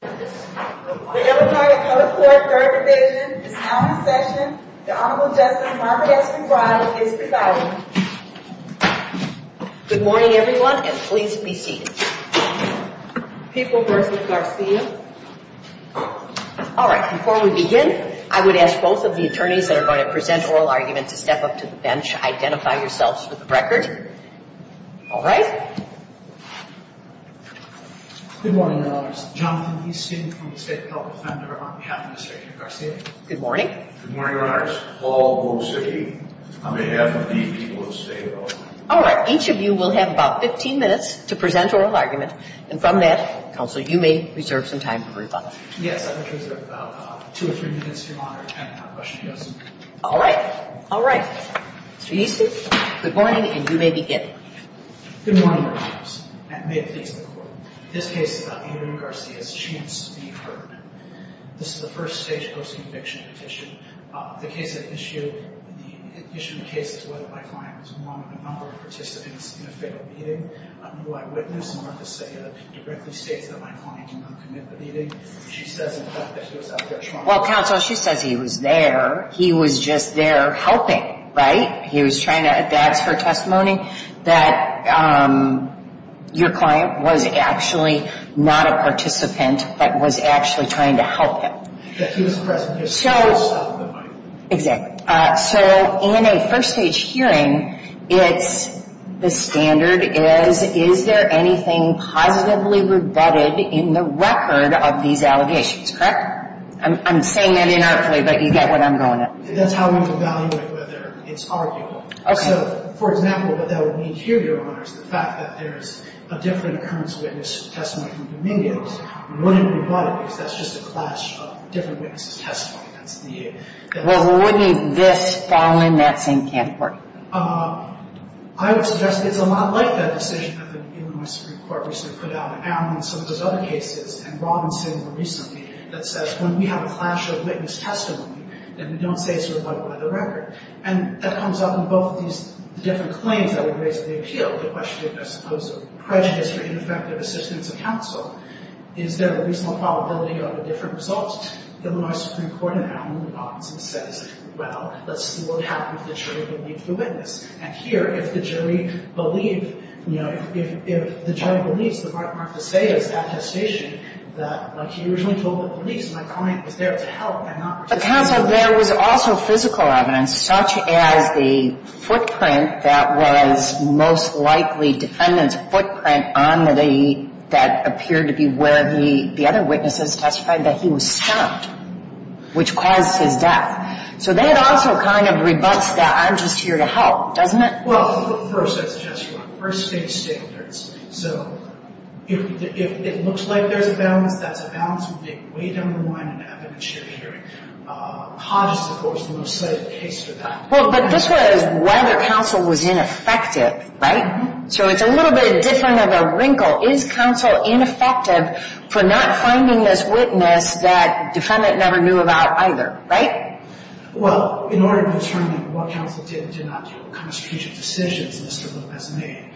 Good morning everyone and please be seated. People versus Garcia. Alright, before we begin, I would ask both of the attorneys that are going to present oral arguments to step up to the bench, identify yourselves for the record. Alright? Both lawyers with us today. Good morning. All in favor who stayed. I may have the people who stayed. You will have about 15 minutes to present oral argument and from that counsel, you may reserve some time for rebuttal. Yes. All right. All right. Good morning and you may begin. Good morning. May it please the court. This case is about Adrian Garcia's chance to be heard. This is the first stage post-conviction petition. The case that issued, the issue of the case is whether my client was one of a number of participants in a failed meeting. Who I witnessed directly states that my client did not commit the meeting. She says in fact that he was out there trying. Well, counsel, she says he was there. He was just there helping. Right? He was trying to, that's her testimony, that your client was actually not a participant but was actually trying to help him. He was present. Exactly. So in a first stage hearing, it's, the standard is, is there anything positively rebutted in the record of these allegations, correct? I'm saying that inartfully, but you get what I'm going at. That's how we evaluate whether it's arguable. Okay. So, for example, what that would mean here, Your Honor, is the fact that there is a different occurrence witness testimony from Dominion. We wouldn't rebut it because that's just a clash of different witnesses' testimony. Well, wouldn't this fall in that same category? I would suggest it's a lot like that decision that the Illinois Supreme Court recently put out. In some of those other cases, and Robinson more recently, that says when we have a clash of witness testimony, then we don't say it's rebutted by the record. And that comes up in both of these different claims that were raised in the appeal. The question, I suppose, of prejudice for ineffective assistance of counsel. Is there a reasonable probability of a different result? The Illinois Supreme Court in Allen v. Robinson says, well, let's see what would happen if the jury believed the witness. And here, if the jury believed, you know, if the jury believes, the right mark to say is attestation. That, like he originally told the police, my client was there to help and not participate. But, counsel, there was also physical evidence, such as the footprint that was most likely defendant's footprint on the day that appeared to be where the other witnesses testified that he was stopped, which caused his death. So, that also kind of rebuts that I'm just here to help, doesn't it? Well, first, I suggest you first face standards. So, if it looks like there's a balance, that's a balance we can weigh down the line and have a mature hearing. Hodges, of course, was the most cited case for that. Well, but this was whether counsel was ineffective, right? So, it's a little bit different of a wrinkle. Is counsel ineffective for not finding this witness that defendant never knew about either, right? Well, in order to determine what counsel did and did not do in the constitutional decisions Mr. Lopez made,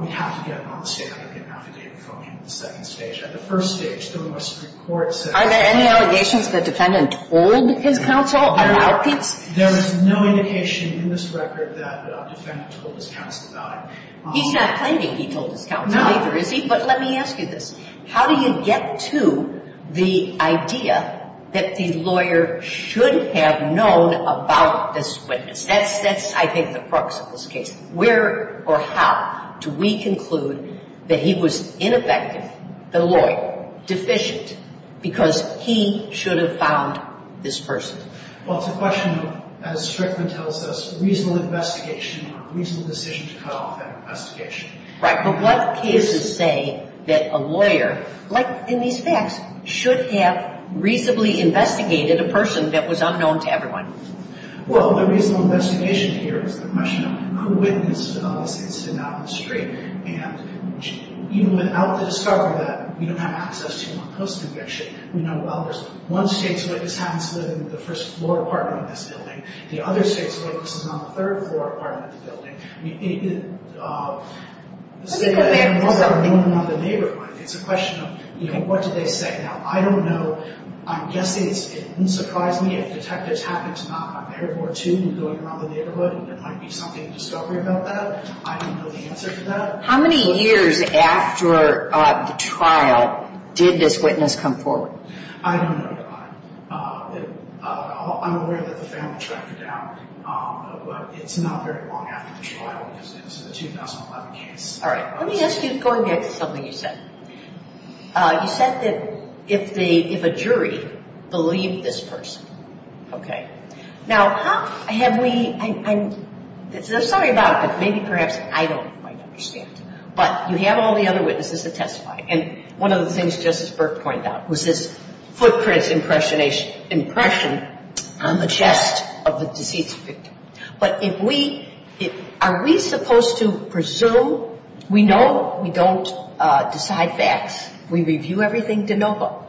we have to get on the stand and get an affidavit from him at the second stage. At the first stage, there was a report set up. Are there any allegations that defendant told his counsel about these? There is no indication in this record that defendant told his counsel about it. He's not claiming he told his counsel either, is he? No. But let me ask you this. How do you get to the idea that the lawyer should have known about this witness? That's, I think, the crux of this case. Where or how do we conclude that he was ineffective, the lawyer, deficient, because he should have found this person? Well, it's a question of, as Strickland tells us, reasonable investigation or reasonable decision to cut off that investigation. Right. But what cases say that a lawyer, like in these facts, should have reasonably investigated a person that was unknown to everyone? Well, the reasonable investigation here is the question of who witnessed this incident on the street. And even without the discovery that we don't have access to him on post-conviction, we know, well, there's one state's witness happens to live in the first floor apartment of this building. The other state's witness is on the third floor apartment of the building. It's a question of, you know, what did they say? Now, I don't know. I'm guessing it wouldn't surprise me if detectives happened to knock on their door, too, and go around the neighborhood and there might be something of discovery about that. I don't know the answer to that. How many years after the trial did this witness come forward? I don't know. I'm aware that the family tracked it down. But it's not very long after the trial because it's a 2011 case. All right. Let me ask you, going back to something you said. You said that if a jury believed this person. Okay. Now, have we – I'm sorry about it, but maybe perhaps I don't quite understand. But you have all the other witnesses that testified. And one of the things Justice Burke pointed out was this footprint impression on the chest of the deceased victim. But if we – are we supposed to presume we know? We don't decide facts. We review everything de novo.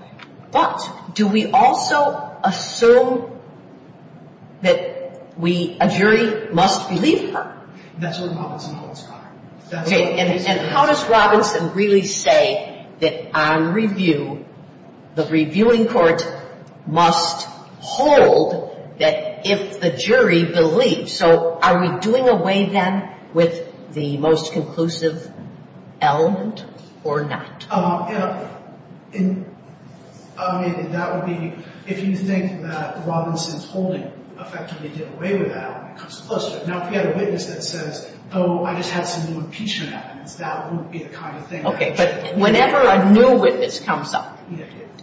But do we also assume that we – a jury must believe her? That's what Robinson holds for. And how does Robinson really say that on review, the reviewing court must hold that if the jury believes? So are we doing away then with the most conclusive element or not? That would be if you think that Robinson's holding effectively did away with that element. Now, if we had a witness that says, oh, I just had some new impeachment evidence, that wouldn't be the kind of thing. Okay. But whenever a new witness comes up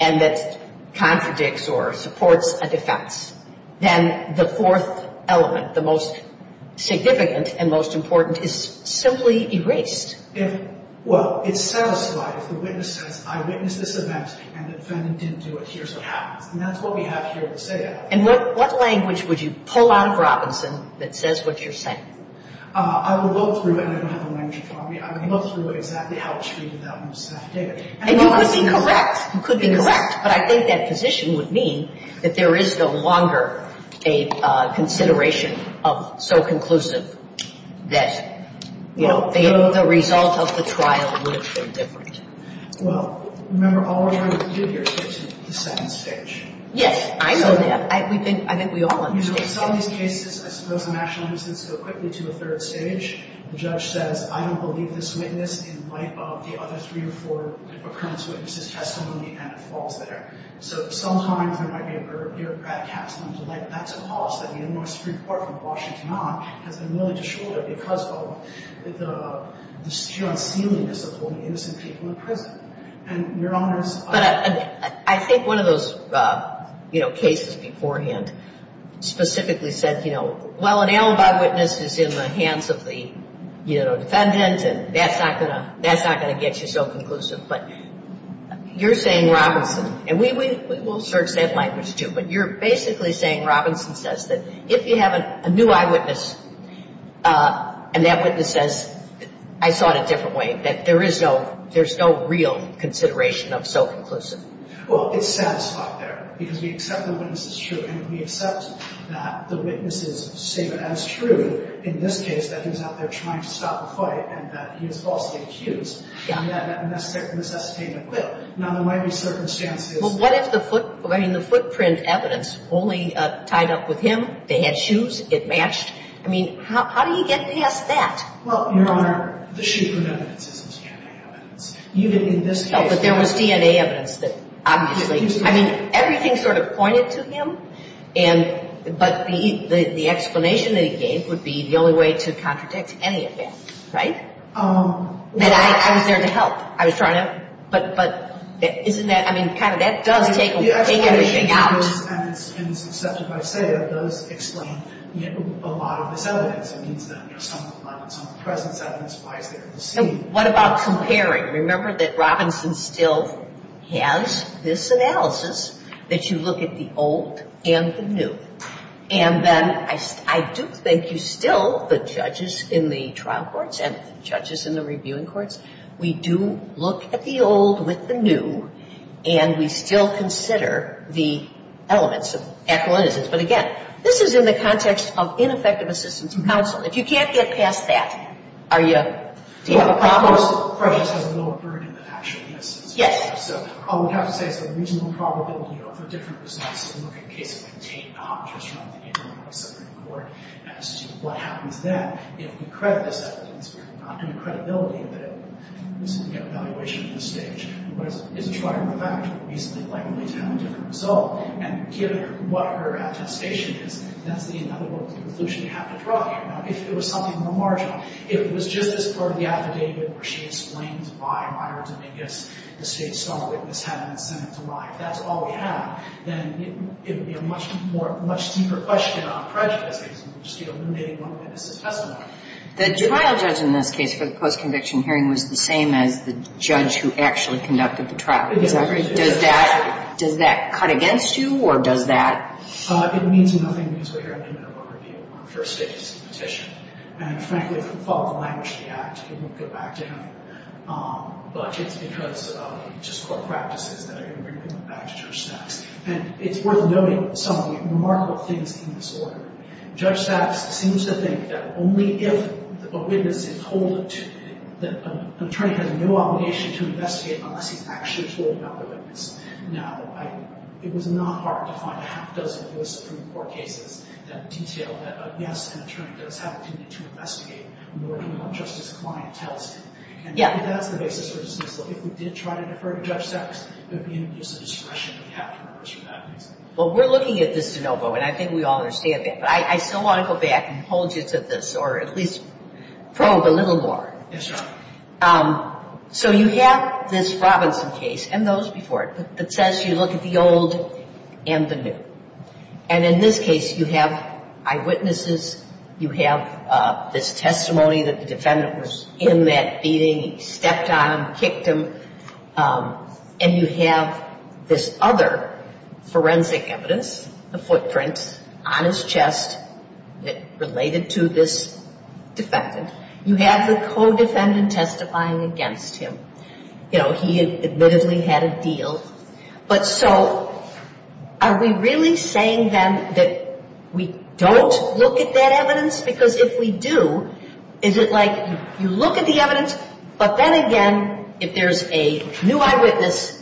and that contradicts or supports a defense, then the fourth element, the most significant and most important, is simply erased. Well, it's satisfied if the witness says, I witnessed this event and the defendant didn't do it, here's what happens. And that's what we have here to say that. And what language would you pull out of Robinson that says what you're saying? I would look through – and I don't have a language in front of me. I would look through exactly how she did that and what staff did. And you could be correct. You could be correct. But I think that position would mean that there is no longer a consideration of so conclusive that, you know, the result of the trial would have been different. Well, remember, all we're trying to do here is get to the sentence stage. Yes. I know that. I think we all understand that. Some of these cases, I suppose, the national innocence go quickly to a third stage. The judge says, I don't believe this witness in light of the other three or four occurrence witnesses' testimony, and it falls there. So sometimes there might be a bureaucrat casting them to light. That's a cause that the Illinois Supreme Court, from Washington on, has been willing to shoulder because of the sheer unsealingness of holding innocent people in prison. But I think one of those, you know, cases beforehand specifically said, you know, well, an ailed eyewitness is in the hands of the, you know, defendant, and that's not going to get you so conclusive. But you're saying, Robinson, and we will search that language, too, but you're basically saying, Robinson says that if you have a new eyewitness and that witness says, I saw it a different way, that there is no real consideration of so conclusive. Well, it's satisfied there because we accept the witness is true, and we accept that the witness is seen as true in this case that he's out there trying to stop the fight and that he was falsely accused. Yeah. And that's necessitated. Now, there might be circumstances. Well, what if the footprint evidence only tied up with him? They had shoes. It matched. I mean, how do you get past that? Well, Your Honor, the shoe print evidence isn't DNA evidence. Even in this case. But there was DNA evidence that obviously. I mean, everything sort of pointed to him, but the explanation that he gave would be the only way to contradict any of it, right? I was there to help. I was trying to. But isn't that, I mean, kind of that does take everything out. And it's accepted by SAIA. Those explain a lot of this evidence. It means that some of the presence evidence lies there to see. What about comparing? Remember that Robinson still has this analysis that you look at the old and the new. And then I do think you still, the judges in the trial courts and the judges in the reviewing courts, we do look at the old with the new, and we still consider the elements of equanimity. But, again, this is in the context of ineffective assistance in counsel. If you can't get past that, are you, do you have a problem? Well, of course, prejudice has a lower burden than actual innocence. Yes. So I would have to say it's a reasonable probability, you know, for different results to look at cases like Tate, just trying to think of a separate court as to what happens then. You know, we credit this evidence. We're not going to credibility it, but it's an evaluation at this stage. But as a trial judge, we're reasonably likely to have a different result. And given what her attestation is, that's another conclusion we have to draw here. Now, if it was something in the marginal, if it was just this part of the affidavit where she explains why Ryder Dominguez, the State's self-witness, had an incentive to lie, if that's all we have, then it would be a much more, much deeper question on prejudice, just, you know, eliminating one witness' testimony. The trial judge in this case for the post-conviction hearing was the same as the judge who actually conducted the trial. Is that right? Does that cut against you, or does that... It means nothing because we're here in a minimum review for a state petition. And frankly, if we follow the language of the Act, it won't go back to him. But it's because of just court practices that are going to bring him back to Judge Sacks. And it's worth noting some of the remarkable things in this order. Judge Sacks seems to think that only if a witness is told that an attorney has no obligation to investigate unless he's actually told about the witness. Now, it was not hard to find a half-dozen U.S. Supreme Court cases that detailed that an attorney does have the duty to investigate more than what just his client tells him. And that's the basis for this case. If we did try to defer to Judge Sacks, it would be in abuse of discretion. We have to reverse that. Well, we're looking at this de novo, and I think we all understand that. But I still want to go back and hold you to this, or at least probe a little more. Yes, ma'am. So you have this Robinson case, and those before it, that says you look at the old and the new. And in this case, you have eyewitnesses. You have this testimony that the defendant was in that beating. He stepped on him, kicked him. And you have this other forensic evidence, a footprint on his chest related to this defendant. You have the co-defendant testifying against him. You know, he admittedly had a deal. But so are we really saying, then, that we don't look at that evidence? Because if we do, is it like you look at the evidence, but then again, if there's a new eyewitness,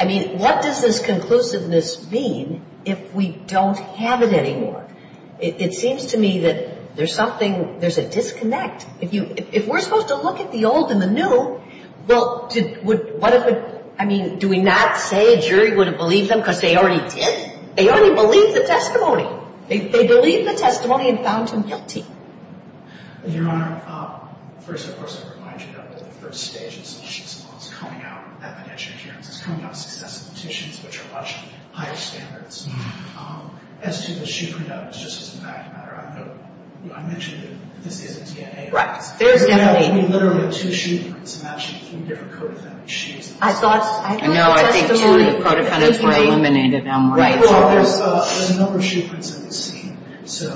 I mean, what does this conclusiveness mean if we don't have it anymore? It seems to me that there's something, there's a disconnect. If we're supposed to look at the old and the new, well, what if we, I mean, do we not say a jury wouldn't believe them because they already did? They already believed the testimony. They believed the testimony and found him guilty. Your Honor, first, of course, I would remind you that the first stage of the solution is coming out, is coming out of successful petitions, which are much higher standards. As to the shoe printouts, just as a matter of fact, I mentioned that this is a DNA test. Right. There's literally two shoe prints matching three different co-defendant's shoes. I thought, I feel like the testimony, he was eliminated on one of those. There's a number of shoe prints that we've seen.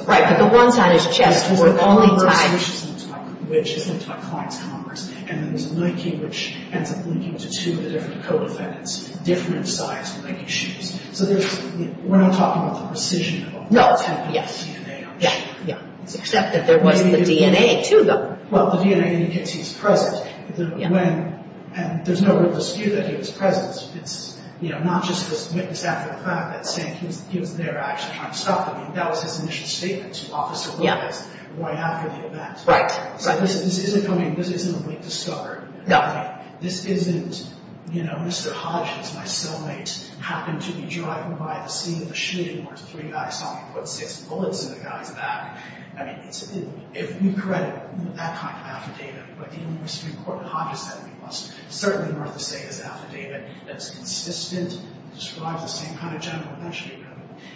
Right, but the one side is chest. There's a number of solutions linked by clients' commerce, and there's a linking which ends up linking to two of the different co-defendants, different sized legging shoes. So there's, we're not talking about the precision of the DNA. Yeah, except that there was the DNA to them. Well, the DNA indicates he's present. When, and there's no real dispute that he was present. It's, you know, not just this witness after the fact that's saying he was there actually trying to stop them. That was his initial statement to Officer Lewis right after the event. Right. So this isn't coming, this isn't a late discovery. No. This isn't, you know, Mr. Hodges, my cellmate, happened to be driving by the scene of the shooting where three guys saw him put six bullets in the guy's back. I mean, it's, if you credit that kind of affidavit, but the University of Important Hodges said it must certainly be worth the state of this affidavit that's consistent, describes the same kind of general punishment.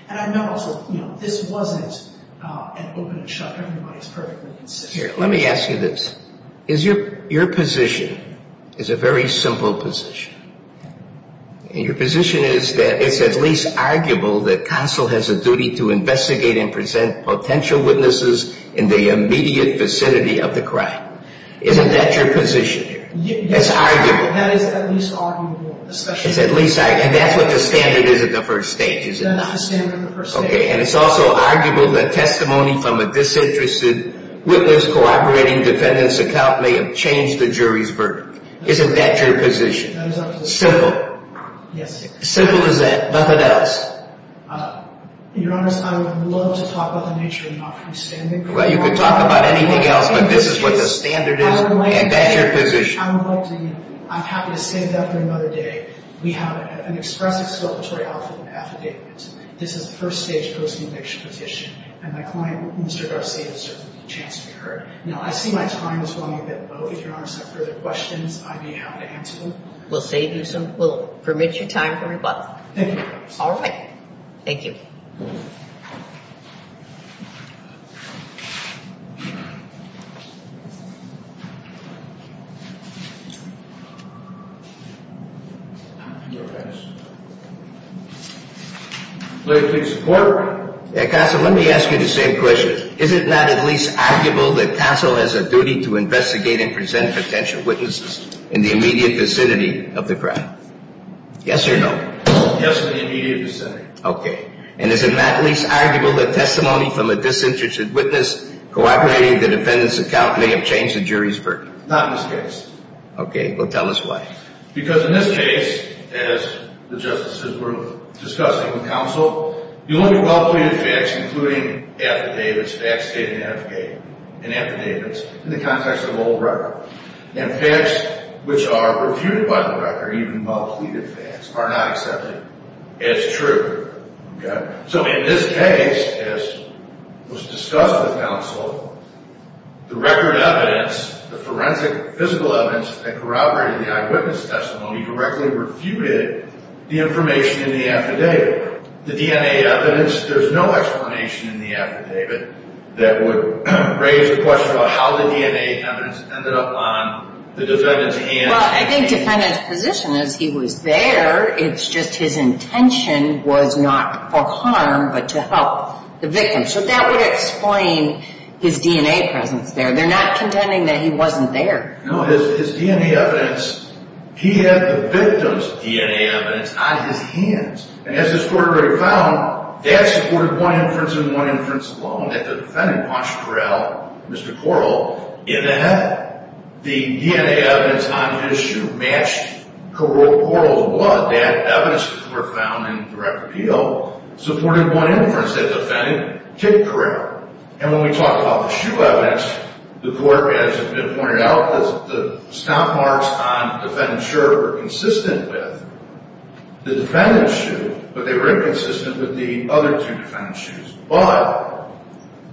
And I know also, you know, this wasn't an open and shut, everybody's perfectly consistent. Here, let me ask you this. Is your, your position is a very simple position. And your position is that it's at least arguable that counsel has a duty to investigate and present potential witnesses in the immediate vicinity of the crime. Isn't that your position here? Yes. It's arguable. That is at least arguable. It's at least, and that's what the standard is at the first stage. That's the standard at the first stage. Okay. And it's also arguable that testimony from a disinterested witness cooperating defendant's account may have changed the jury's verdict. Isn't that your position? That is up to the judge. Simple? Yes. Simple as that. Nothing else? Your Honor, I would love to talk about the nature of the offering standard. Well, you can talk about anything else, but this is what the standard is. And that's your position. I would like to, I would like to, I'm happy to save that for another day. We have an express exculpatory offering affidavit. This is a first-stage post-conviction petition. And my client, Mr. Garcia, certainly has a chance to be heard. Now, I see my time is running a bit low. If Your Honor has further questions, I'd be happy to answer them. We'll save you some. We'll permit your time for rebuttal. Thank you. All right. Thank you. Your Honor. Please report. Counsel, let me ask you the same question. Is it not at least arguable that counsel has a duty to investigate and present potential witnesses in the immediate vicinity of the crime? Yes or no? Yes, in the immediate vicinity. Okay. And is it not at least arguable that testimony from a disinterested witness cooperating with the defendant's account may have changed the jury's verdict? Not in this case. Okay. Well, tell us why. Because in this case, as the justices were discussing with counsel, the only well-pleaded facts, including affidavits, facts stated in affidavits, in the context of old record, and facts which are refuted by the record, even well-pleaded facts, are not accepted as true. Okay. The defendant's testimony directly refuted the information in the affidavit. The DNA evidence, there's no explanation in the affidavit that would raise the question about how the DNA evidence ended up on the defendant's hands. Well, I think the defendant's position is he was there. It's just his intention was not for harm but to help the victim. So that would explain his DNA presence there. They're not contending that he wasn't there. No, his DNA evidence, he had the victim's DNA evidence on his hands. And as this court already found, that supported one inference and one inference alone that the defendant launched Correll, Mr. Correll, in the head. The DNA evidence on his shoe matched Correll's blood. That evidence, as the court found in direct appeal, supported one inference that the defendant kicked Correll. And when we talk about the shoe evidence, the court, as has been pointed out, the stop marks on the defendant's shirt were consistent with the defendant's shoe, but they were inconsistent with the other two defendant's shoes. But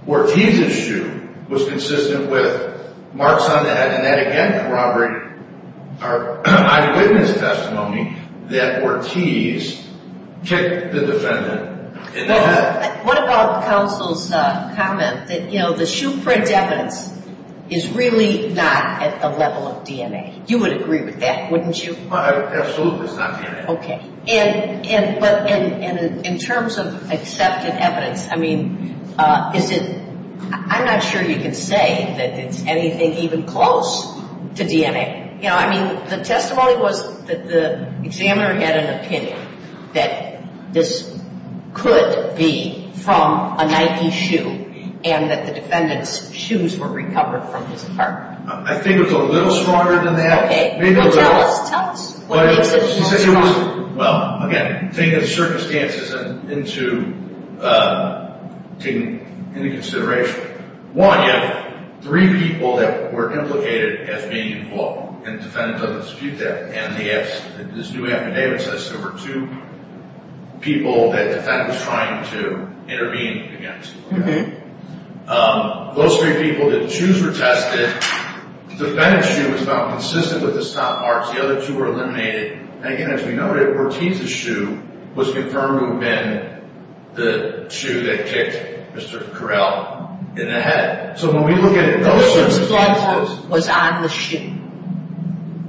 Ortiz's shoe was consistent with marks on the head, and that, again, corroborated our eyewitness testimony that Ortiz kicked the defendant in the head. What about counsel's comment that, you know, the shoe print evidence is really not at the level of DNA? You would agree with that, wouldn't you? Absolutely, it's not DNA. Okay. And in terms of accepted evidence, I mean, is it – I'm not sure you can say that it's anything even close to DNA. Okay. You know, I mean, the testimony was that the examiner had an opinion that this could be from a Nike shoe and that the defendant's shoes were recovered from his apartment. I think it was a little stronger than that. Okay. Well, tell us. Tell us what makes it more strong. Well, again, take the circumstances into consideration. One, you have three people that were implicated as being involved, and the defendant doesn't dispute that. And this new affidavit says there were two people that the defendant was trying to intervene against. Okay. Those three people, the shoes were tested. The defendant's shoe was found consistent with the stop marks. The other two were eliminated. And again, as we noted, Ortiz's shoe was confirmed to have been the shoe that kicked Mr. Correll in the head. So when we look at it – The victim's blood was on the shoe.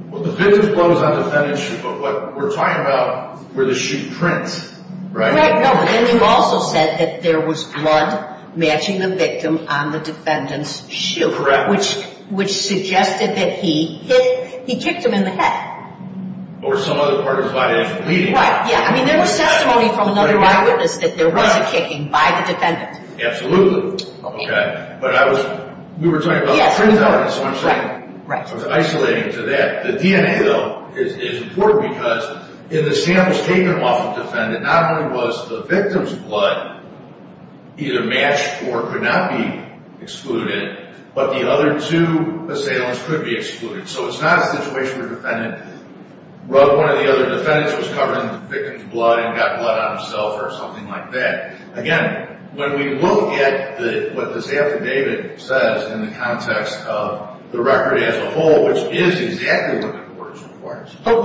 Well, the victim's blood was on the defendant's shoe, but what we're talking about were the shoe prints, right? Right. No, but then you also said that there was blood matching the victim on the defendant's shoe. Correct. Which suggested that he hit – he kicked him in the head. Or some other part of his body actually bleeding. Right, yeah. I mean, there was testimony from another eyewitness that there was a kicking by the defendant. Absolutely. Okay. But I was – we were talking about the truth of the evidence, so I'm saying it was isolating to that. The DNA, though, is important because in the samples taken off the defendant, not only was the victim's blood either matched or could not be excluded, but the other two assailants could be excluded. So it's not a situation where the defendant rubbed one of the other defendants who was covering the victim's blood and got blood on himself or something like that. Again, when we look at what the sample data says in the context of the record as a whole, which is exactly what the courts require. But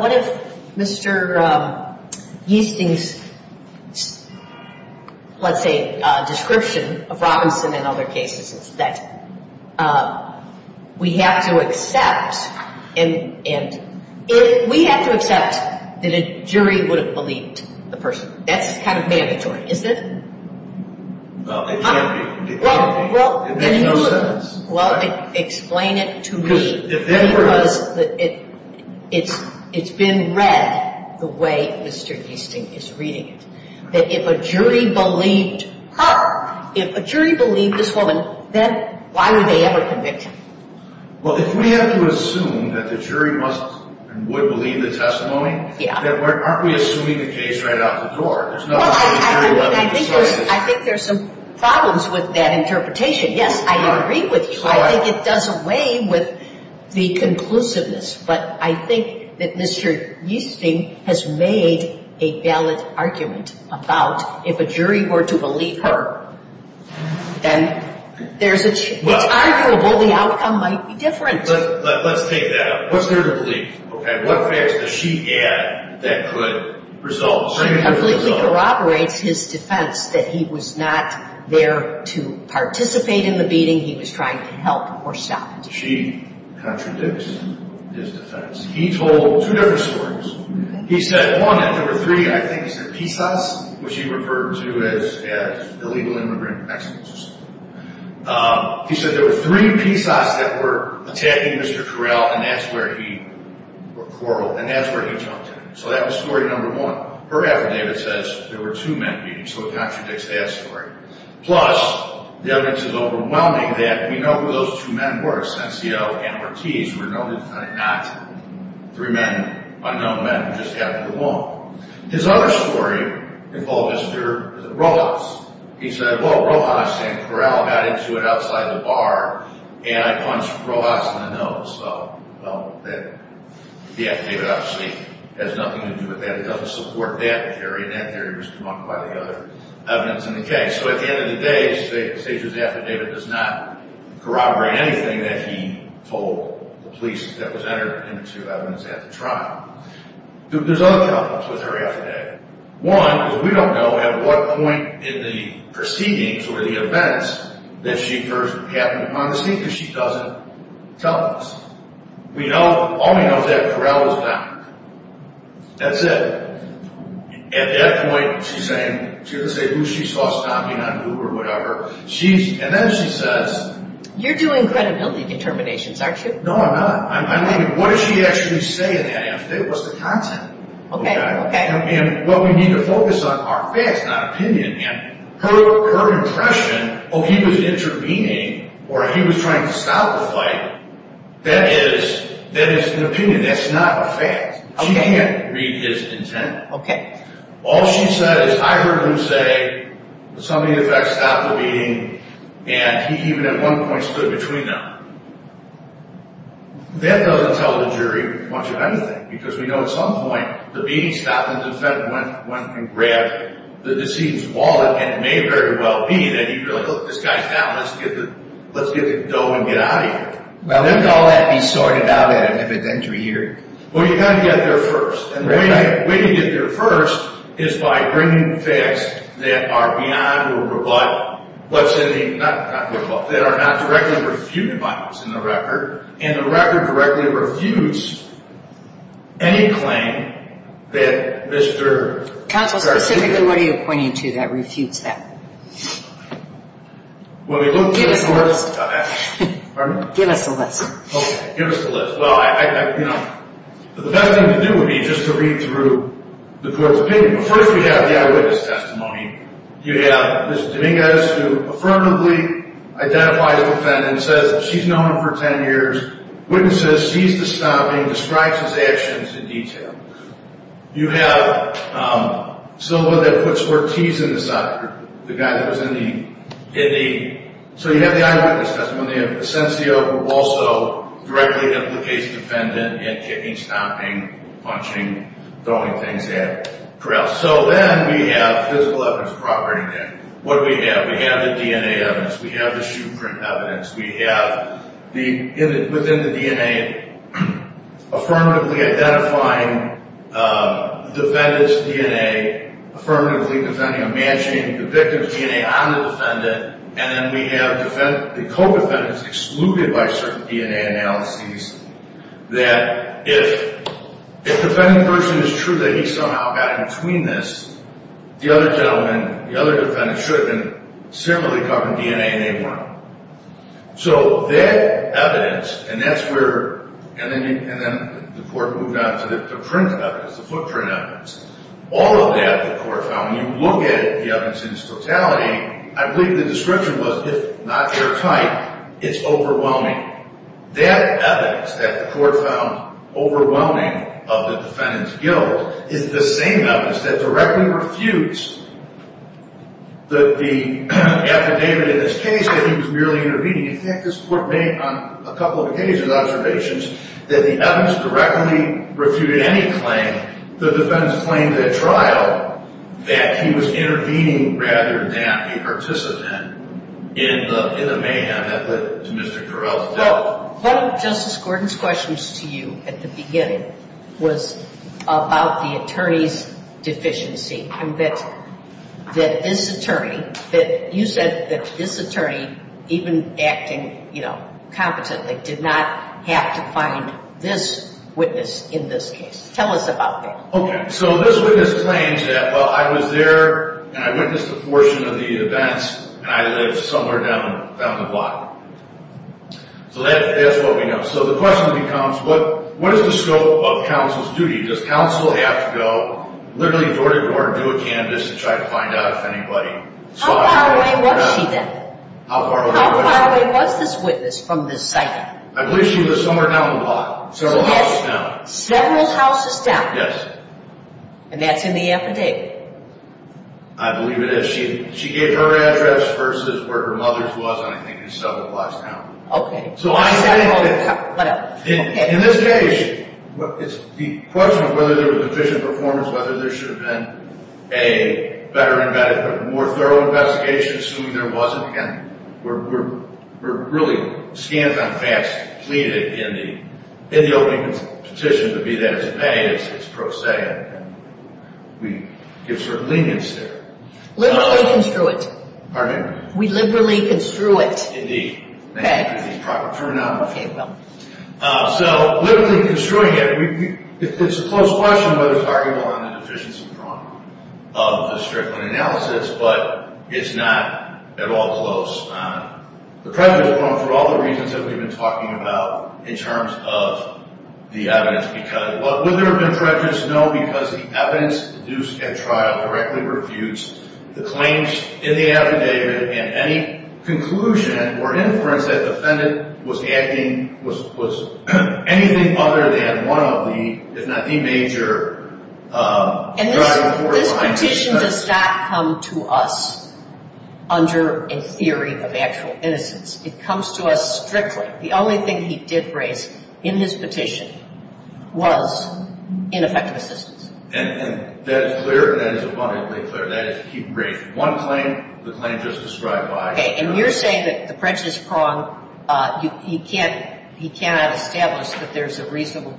what if Mr. Giesting's, let's say, description of Robinson and other cases, is that we have to accept – we have to accept that a jury would have believed the person. That's kind of mandatory, isn't it? Well, it can't be. It makes no sense. Well, explain it to me because it's been read the way Mr. Giesting is reading it, that if a jury believed her, if a jury believed this woman, then why would they ever convict him? Well, if we have to assume that the jury must and would believe the testimony, then aren't we assuming the case right out the door? Well, I think there's some problems with that interpretation. Yes, I agree with you. I think it does away with the conclusiveness. But I think that Mr. Giesting has made a valid argument about if a jury were to believe her, then it's arguable the outcome might be different. Let's take that. What's there to believe? Okay, what facts does she add that could result? Completely corroborates his defense that he was not there to participate in the beating. He was trying to help or stop it. She contradicts his defense. He told two different stories. He said, one, that there were three, I think he said, pisas, which he referred to as illegal immigrant expulsions. He said there were three pisas that were attacking Mr. Corral, and that's where he quarreled, and that's where he jumped in. So that was story number one. Her affidavit says there were two men beating, so it contradicts that story. Plus, the evidence is overwhelming that we know who those two men were, Sencio and Ortiz, who were not three men, unknown men who just happened to walk. His other story involved Mr. Rojas. He said, well, Rojas and Corral got into it outside the bar, and I punched Rojas in the nose. Well, the affidavit actually has nothing to do with that. It doesn't support that theory, and that theory was debunked by the other evidence in the case. So at the end of the day, Secio's affidavit does not corroborate anything that he told the police that was entered into evidence at the trial. There's other problems with her affidavit. One, because we don't know at what point in the proceedings or the events that she first happened upon the scene because she doesn't tell us. All we know is that Corral was found. That's it. At that point, she's going to say who she saw stomping on who or whatever, and then she says— You're doing credibility determinations, aren't you? No, I'm not. I mean, what does she actually say in that affidavit? What's the content? Okay, okay. And what we need to focus on are facts, not opinion. And her impression, oh, he was intervening or he was trying to stop the fight, that is an opinion. That's not a fact. She can't read his intent. Okay. All she said is, I heard him say somebody in effect stopped the beating, and he even at one point stood between them. That doesn't tell the jury much of anything because we know at some point the beating stopped and the defendant went and grabbed the deceased's wallet, and it may very well be that he really looked this guy down, let's get the dough and get out of here. Well, wouldn't all that be sorted out at an evidentiary hearing? Well, you've got to get there first. And the way to get there first is by bringing facts that are beyond or above— that are not directly refuted by us in the record, and the record directly refutes any claim that Mr. Counsel, specifically what are you pointing to that refutes that? Well, we look— Give us a list. Pardon me? Give us a list. Okay, give us a list. Well, you know, the best thing to do would be just to read through the court's opinion. First we have the eyewitness testimony. You have Ms. Dominguez who affirmatively identifies the defendant, says she's known him for 10 years, witnesses, sees the stomping, describes his actions in detail. You have someone that puts Ortiz in the soccer group, the guy that was in the— So you have the eyewitness testimony. You have Asensio, who also directly implicates the defendant in kicking, stomping, punching, throwing things at, corral. So then we have physical evidence of property damage. What do we have? We have the DNA evidence. We have the shoe print evidence. We have within the DNA affirmatively identifying the defendant's DNA, affirmatively matching the victim's DNA on the defendant, and then we have the co-defendant is excluded by certain DNA analyses that if the defending person is true that he somehow got in between this, the other gentleman, the other defendant should have been similarly covered in DNA and they weren't. So that evidence, and that's where—and then the court moved on to the print evidence, the footprint evidence. All of that the court found. When you look at the evidence in its totality, I believe the description was if not airtight, it's overwhelming. That evidence that the court found overwhelming of the defendant's guilt is the same evidence that directly refutes the affidavit in this case that he was merely intervening. In fact, this court made on a couple of occasions observations that the evidence directly refuted any claim. The defendant's claim to the trial that he was intervening rather than a participant in the mayhem that led to Mr. Correll's death. Well, one of Justice Gordon's questions to you at the beginning was about the attorney's deficiency and that this attorney, that you said that this attorney, even acting competently, did not have to find this witness in this case. Tell us about that. Okay. So this witness claims that, well, I was there, and I witnessed a portion of the events, and I lived somewhere down the block. So that's what we know. So the question becomes, what is the scope of counsel's duty? Does counsel have to go, literally go to court, do a canvass, and try to find out if anybody saw him? How far away was she then? How far away was she? How far away was this witness from this site? I believe she was somewhere down the block, several houses down. Several houses down? Yes. And that's in the affidavit? I believe it is. She gave her address versus where her mother's was, and I think it's several blocks down. Okay. In this case, the question of whether there was efficient performance, whether there should have been a better, more thorough investigation, assuming there wasn't, again, we're really scant on facts, in the opening petition, but be that as it may, it's pro se, and we give certain lenience there. Liberally construed. Pardon me? We liberally construed it. Indeed. Okay. Proper terminology. Okay, well. So, liberally construing it, it's a close question whether it's arguable on an efficiency problem of the Strickland analysis, but it's not at all close. The prejudice, for all the reasons that we've been talking about, in terms of the evidence, but would there have been prejudice? No, because the evidence used at trial directly refutes the claims in the affidavit and any conclusion or inference that the defendant was acting, was anything other than one of the, if not the major driver for it. This petition does not come to us under a theory of actual innocence. It comes to us strictly. The only thing he did raise in his petition was ineffective assistance. And that is clear. That is abundantly clear. That is, he raised one claim, the claim just described by. Okay, and you're saying that the prejudice prong, he cannot establish that there's a reasonable,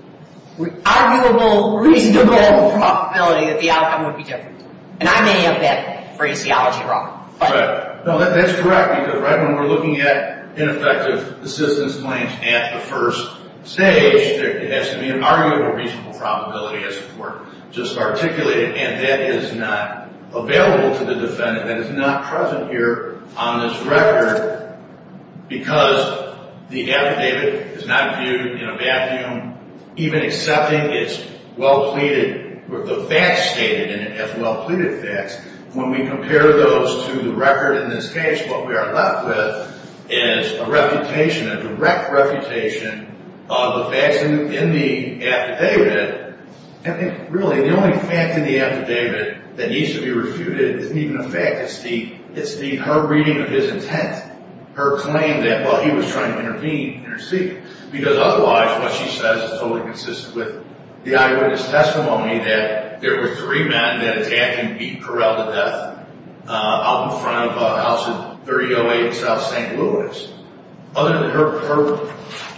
arguable, reasonable probability that the outcome would be different. And I may have that phraseology wrong. No, that's correct. Because right when we're looking at ineffective assistance claims at the first stage, there has to be an arguable, reasonable probability, as before, just articulated. And that is not available to the defendant. That is not present here on this record because the affidavit is not viewed in a vacuum, even accepting its well-pleaded, the facts stated in it as well-pleaded facts. When we compare those to the record in this case, what we are left with is a refutation, a direct refutation of the facts in the affidavit. And really, the only fact in the affidavit that needs to be refuted isn't even a fact. It's the, it's the, her reading of his intent. Her claim that, well, he was trying to intervene, intercede. Because otherwise, what she says is totally consistent with the eyewitness testimony that there were three men that attacked and beat Correll to death out in front of a house in 3008 South St. Louis. Other than her, her,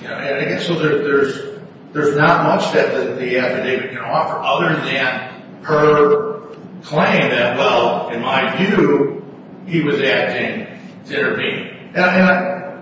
you know, and I guess there's not much that the affidavit can offer other than her claim that, well, in my view, he was acting to intervene.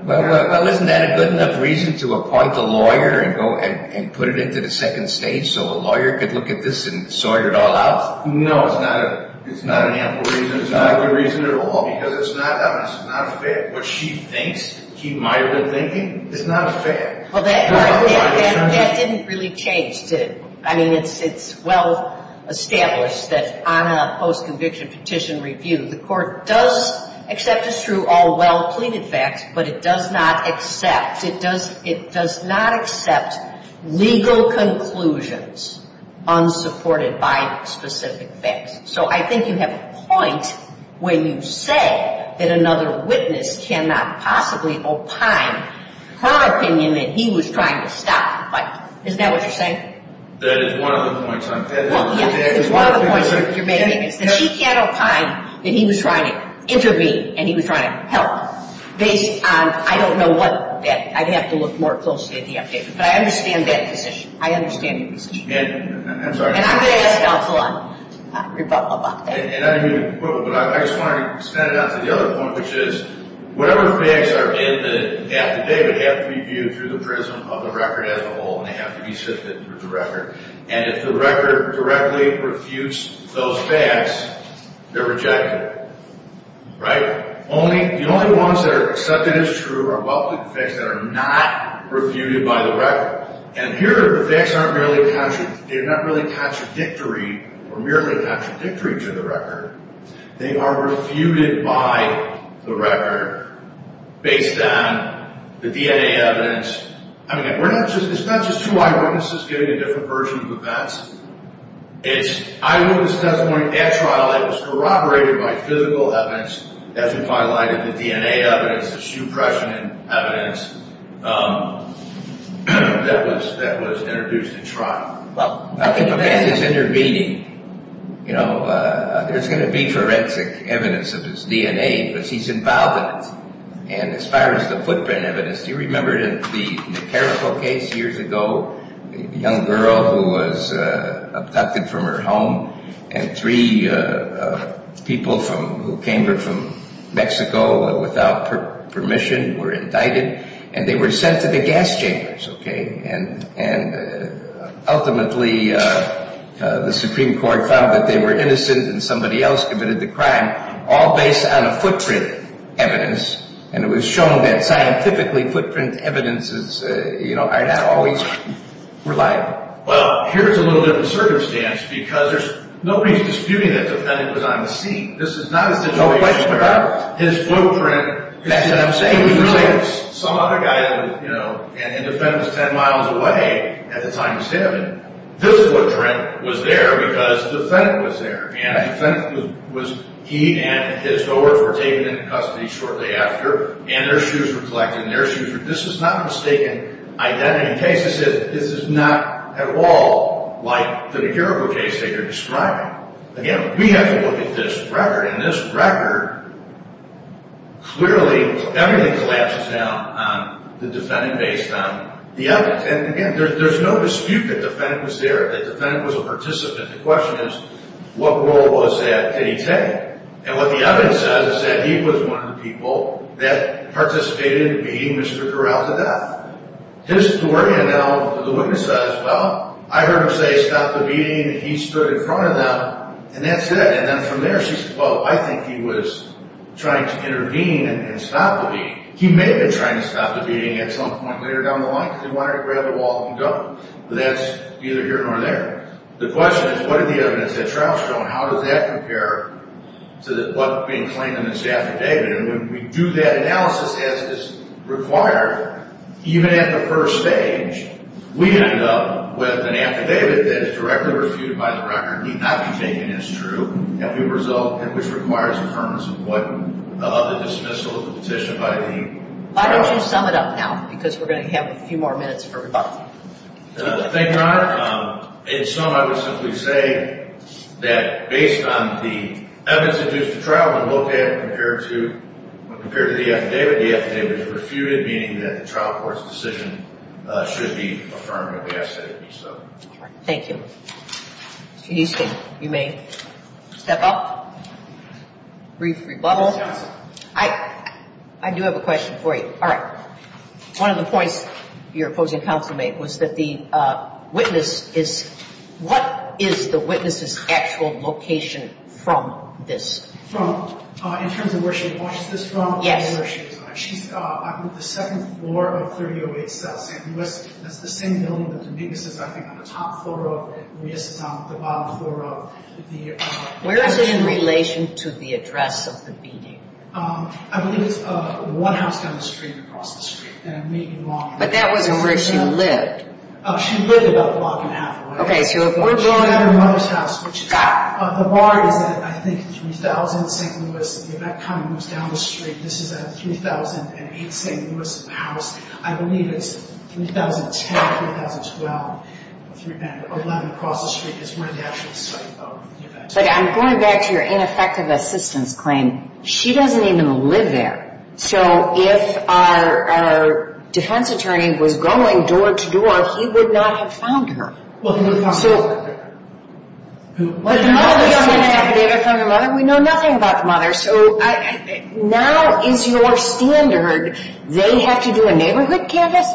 Well, isn't that a good enough reason to appoint a lawyer and go and put it into the second stage so a lawyer could look at this and sort it all out? No, it's not a, it's not an ample reason. It's not a good reason at all because it's not, it's not a fact. What she thinks, keep my good thinking, it's not a fact. Well, that didn't really change, did it? I mean, it's well established that on a post-conviction petition review, the court does accept as true all well-pleaded facts, but it does not accept, it does not accept legal conclusions unsupported by specific facts. So I think you have a point when you say that another witness cannot possibly opine her opinion that he was trying to stop the fight. Isn't that what you're saying? That is one of the points. One of the points that you're making is that she can't opine that he was trying to intervene and he was trying to help based on, I don't know what that, I'd have to look more closely at the update. But I understand that position. I understand your position. And I'm sorry. And I'm going to ask counsel on rebuttal about that. And I didn't mean to put one, but I just wanted to extend it out to the other point, which is whatever facts are in the affidavit have to be viewed through the prism of the record as a whole and they have to be sifted through the record. And if the record directly refutes those facts, they're rejected. Right? The only ones that are accepted as true are well-pleaded facts that are not refuted by the record. And here the facts aren't really, they're not really contradictory or merely contradictory to the record. They are refuted by the record based on the DNA evidence. I mean, we're not just, it's not just two eyewitnesses giving a different version of the facts. It's, I wrote a testimony at trial that was corroborated by physical evidence, as we've highlighted, the DNA evidence, the suppression evidence that was introduced at trial. Well, I think the fact is intervening, you know, there's going to be forensic evidence of his DNA, but he's involved in it. And as far as the footprint evidence, do you remember in the Caracol case years ago, a young girl who was abducted from her home and three people who came from Mexico without permission were indicted and they were sent to the gas chambers, okay? And ultimately the Supreme Court found that they were innocent and somebody else committed the crime, all based on a footprint evidence. And it was shown that scientifically footprint evidence is, you know, are not always reliable. Well, here's a little different circumstance because there's, nobody's disputing that the defendant was on the scene. This is not a situation where his footprint is 10 feet away. That's what I'm saying. Some other guy, you know, and the defendant was 10 miles away at the time of the stabbing. This footprint was there because the defendant was there. And the defendant was, he and his daughters were taken into custody shortly after and their shoes were collected and their shoes were, this is not a mistaken identity case. This is not at all like the Caracol case that you're describing. Again, we have to look at this record. In this record, clearly everything collapses down on the defendant based on the evidence. And, again, there's no dispute that the defendant was there, that the defendant was a participant. The question is, what role was that? Did he take? And what the evidence says is that he was one of the people that participated in beating Mr. Corral to death. His story, now, the witness says, well, I heard him say stop the beating and he stood in front of them and that's it. And then from there she said, well, I think he was trying to intervene and stop the beating. He may have been trying to stop the beating at some point later down the line because he wanted to grab the wall and go, but that's either here nor there. The question is, what are the evidence at trial showing? How does that compare to what's being claimed in this affidavit? And when we do that analysis as is required, even at the first stage, we end up with an affidavit that is directly refuted by the record, need not be taken as true, which requires the dismissal of the petition by the trial court. Why don't you sum it up now? Because we're going to have a few more minutes for rebuttal. Thank you, Your Honor. In sum, I would simply say that based on the evidence induced at trial, when looked at and compared to the affidavit, the affidavit is refuted, meaning that the trial court's decision should be affirmed in the affidavit. Thank you. Mr. Houston, you may step up. Brief rebuttal. Ms. Johnson. I do have a question for you. All right. One of the points your opposing counsel made was that the witness is – what is the witness's actual location from this? From – in terms of where she watches this from? Yes. She's on the second floor of 3008 South St. Louis. That's the same building that the witness is, I think, on the top floor of. The witness is on the bottom floor of. Where is it in relation to the address of the beating? I believe it's one house down the street across the street. But that wasn't where she lived. She lived about a block and a half away. Okay, so if we're going – She had her mother's house, which is – The bar is at, I think, 3000 St. Louis. If that kind of moves down the street, this is at 3008 St. Louis House. I believe it's 3010 or 3012 or 311 across the street is where the actual site of the event is. But I'm going back to your ineffective assistance claim. She doesn't even live there. So if our defense attorney was going door-to-door, he would not have found her. Well, he would have found his mother. Who? We know nothing about the mother. So now is your standard. They have to do a neighborhood canvass?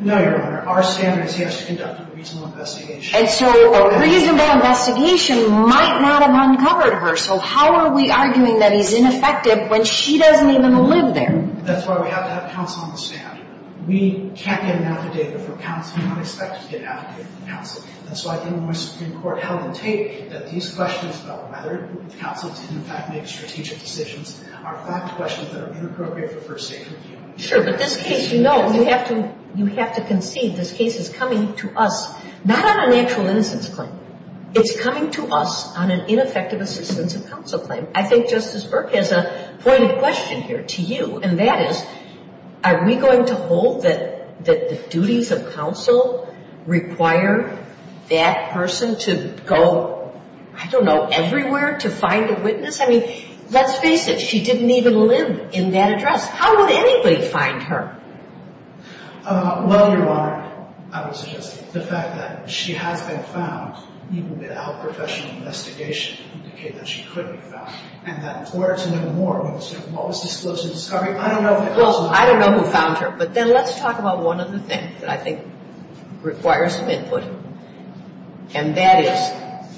No, Your Honor. Our standard is he has to conduct a reasonable investigation. And so a reasonable investigation might not have uncovered her. So how are we arguing that he's ineffective when she doesn't even live there? That's why we have to have counsel on the stand. We can't get an affidavit from counsel. We don't expect to get an affidavit from counsel. That's why I think when my Supreme Court held in Tate that these questions about whether counsel did, in fact, make strategic decisions are fact questions that are too appropriate for first-degree view. Sure, but this case, you know, you have to concede this case is coming to us not on an actual innocence claim. It's coming to us on an ineffective assistance of counsel claim. I think Justice Burke has a point of question here to you, and that is, are we going to hold that the duties of counsel require that person to go, I don't know, everywhere to find a witness? I mean, let's face it. She didn't even live in that address. How would anybody find her? Well, Your Honor, I would suggest the fact that she has been found even without professional investigation would indicate that she could be found. And that in order to know more about what was disclosed in the discovery, I don't know if the counsel. Well, I don't know who found her. And that is,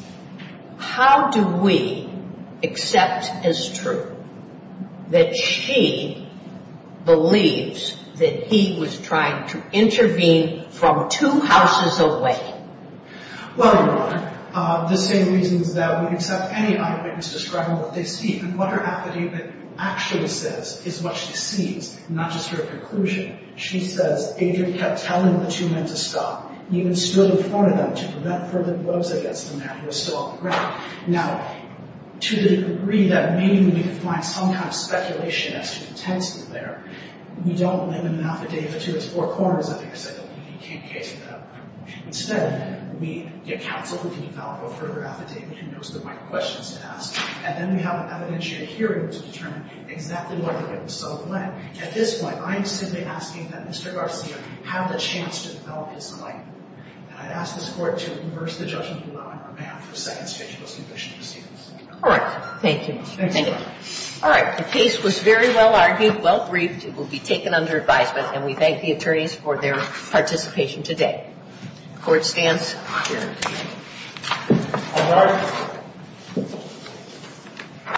how do we accept as true that she believes that he was trying to intervene from two houses away? Well, Your Honor, the same reasons that we accept any eyewitness to describe what they see. And what her affidavit actually says is what she sees, not just her conclusion. She says, Adrian kept telling the two men to stop, even stood in front of them to prevent further gloves against the man who was still on the ground. Now, to the degree that maybe we could find some kind of speculation as to the text in there, we don't limit an affidavit to its four corners. I think I said that we can't cater to that. Instead, we get counsel who can develop a further affidavit who knows the right questions to ask, and then we have an evidentiary hearing to determine exactly what the witness saw and when. At this point, I am simply asking that Mr. Garcia have the chance to develop his alignment. And I ask this Court to reverse the judgment on behalf of the second stage of those conditions. All right. Thank you. All right. The case was very well argued, well briefed. It will be taken under advisement. And we thank the attorneys for their participation today. Court stands adjourned.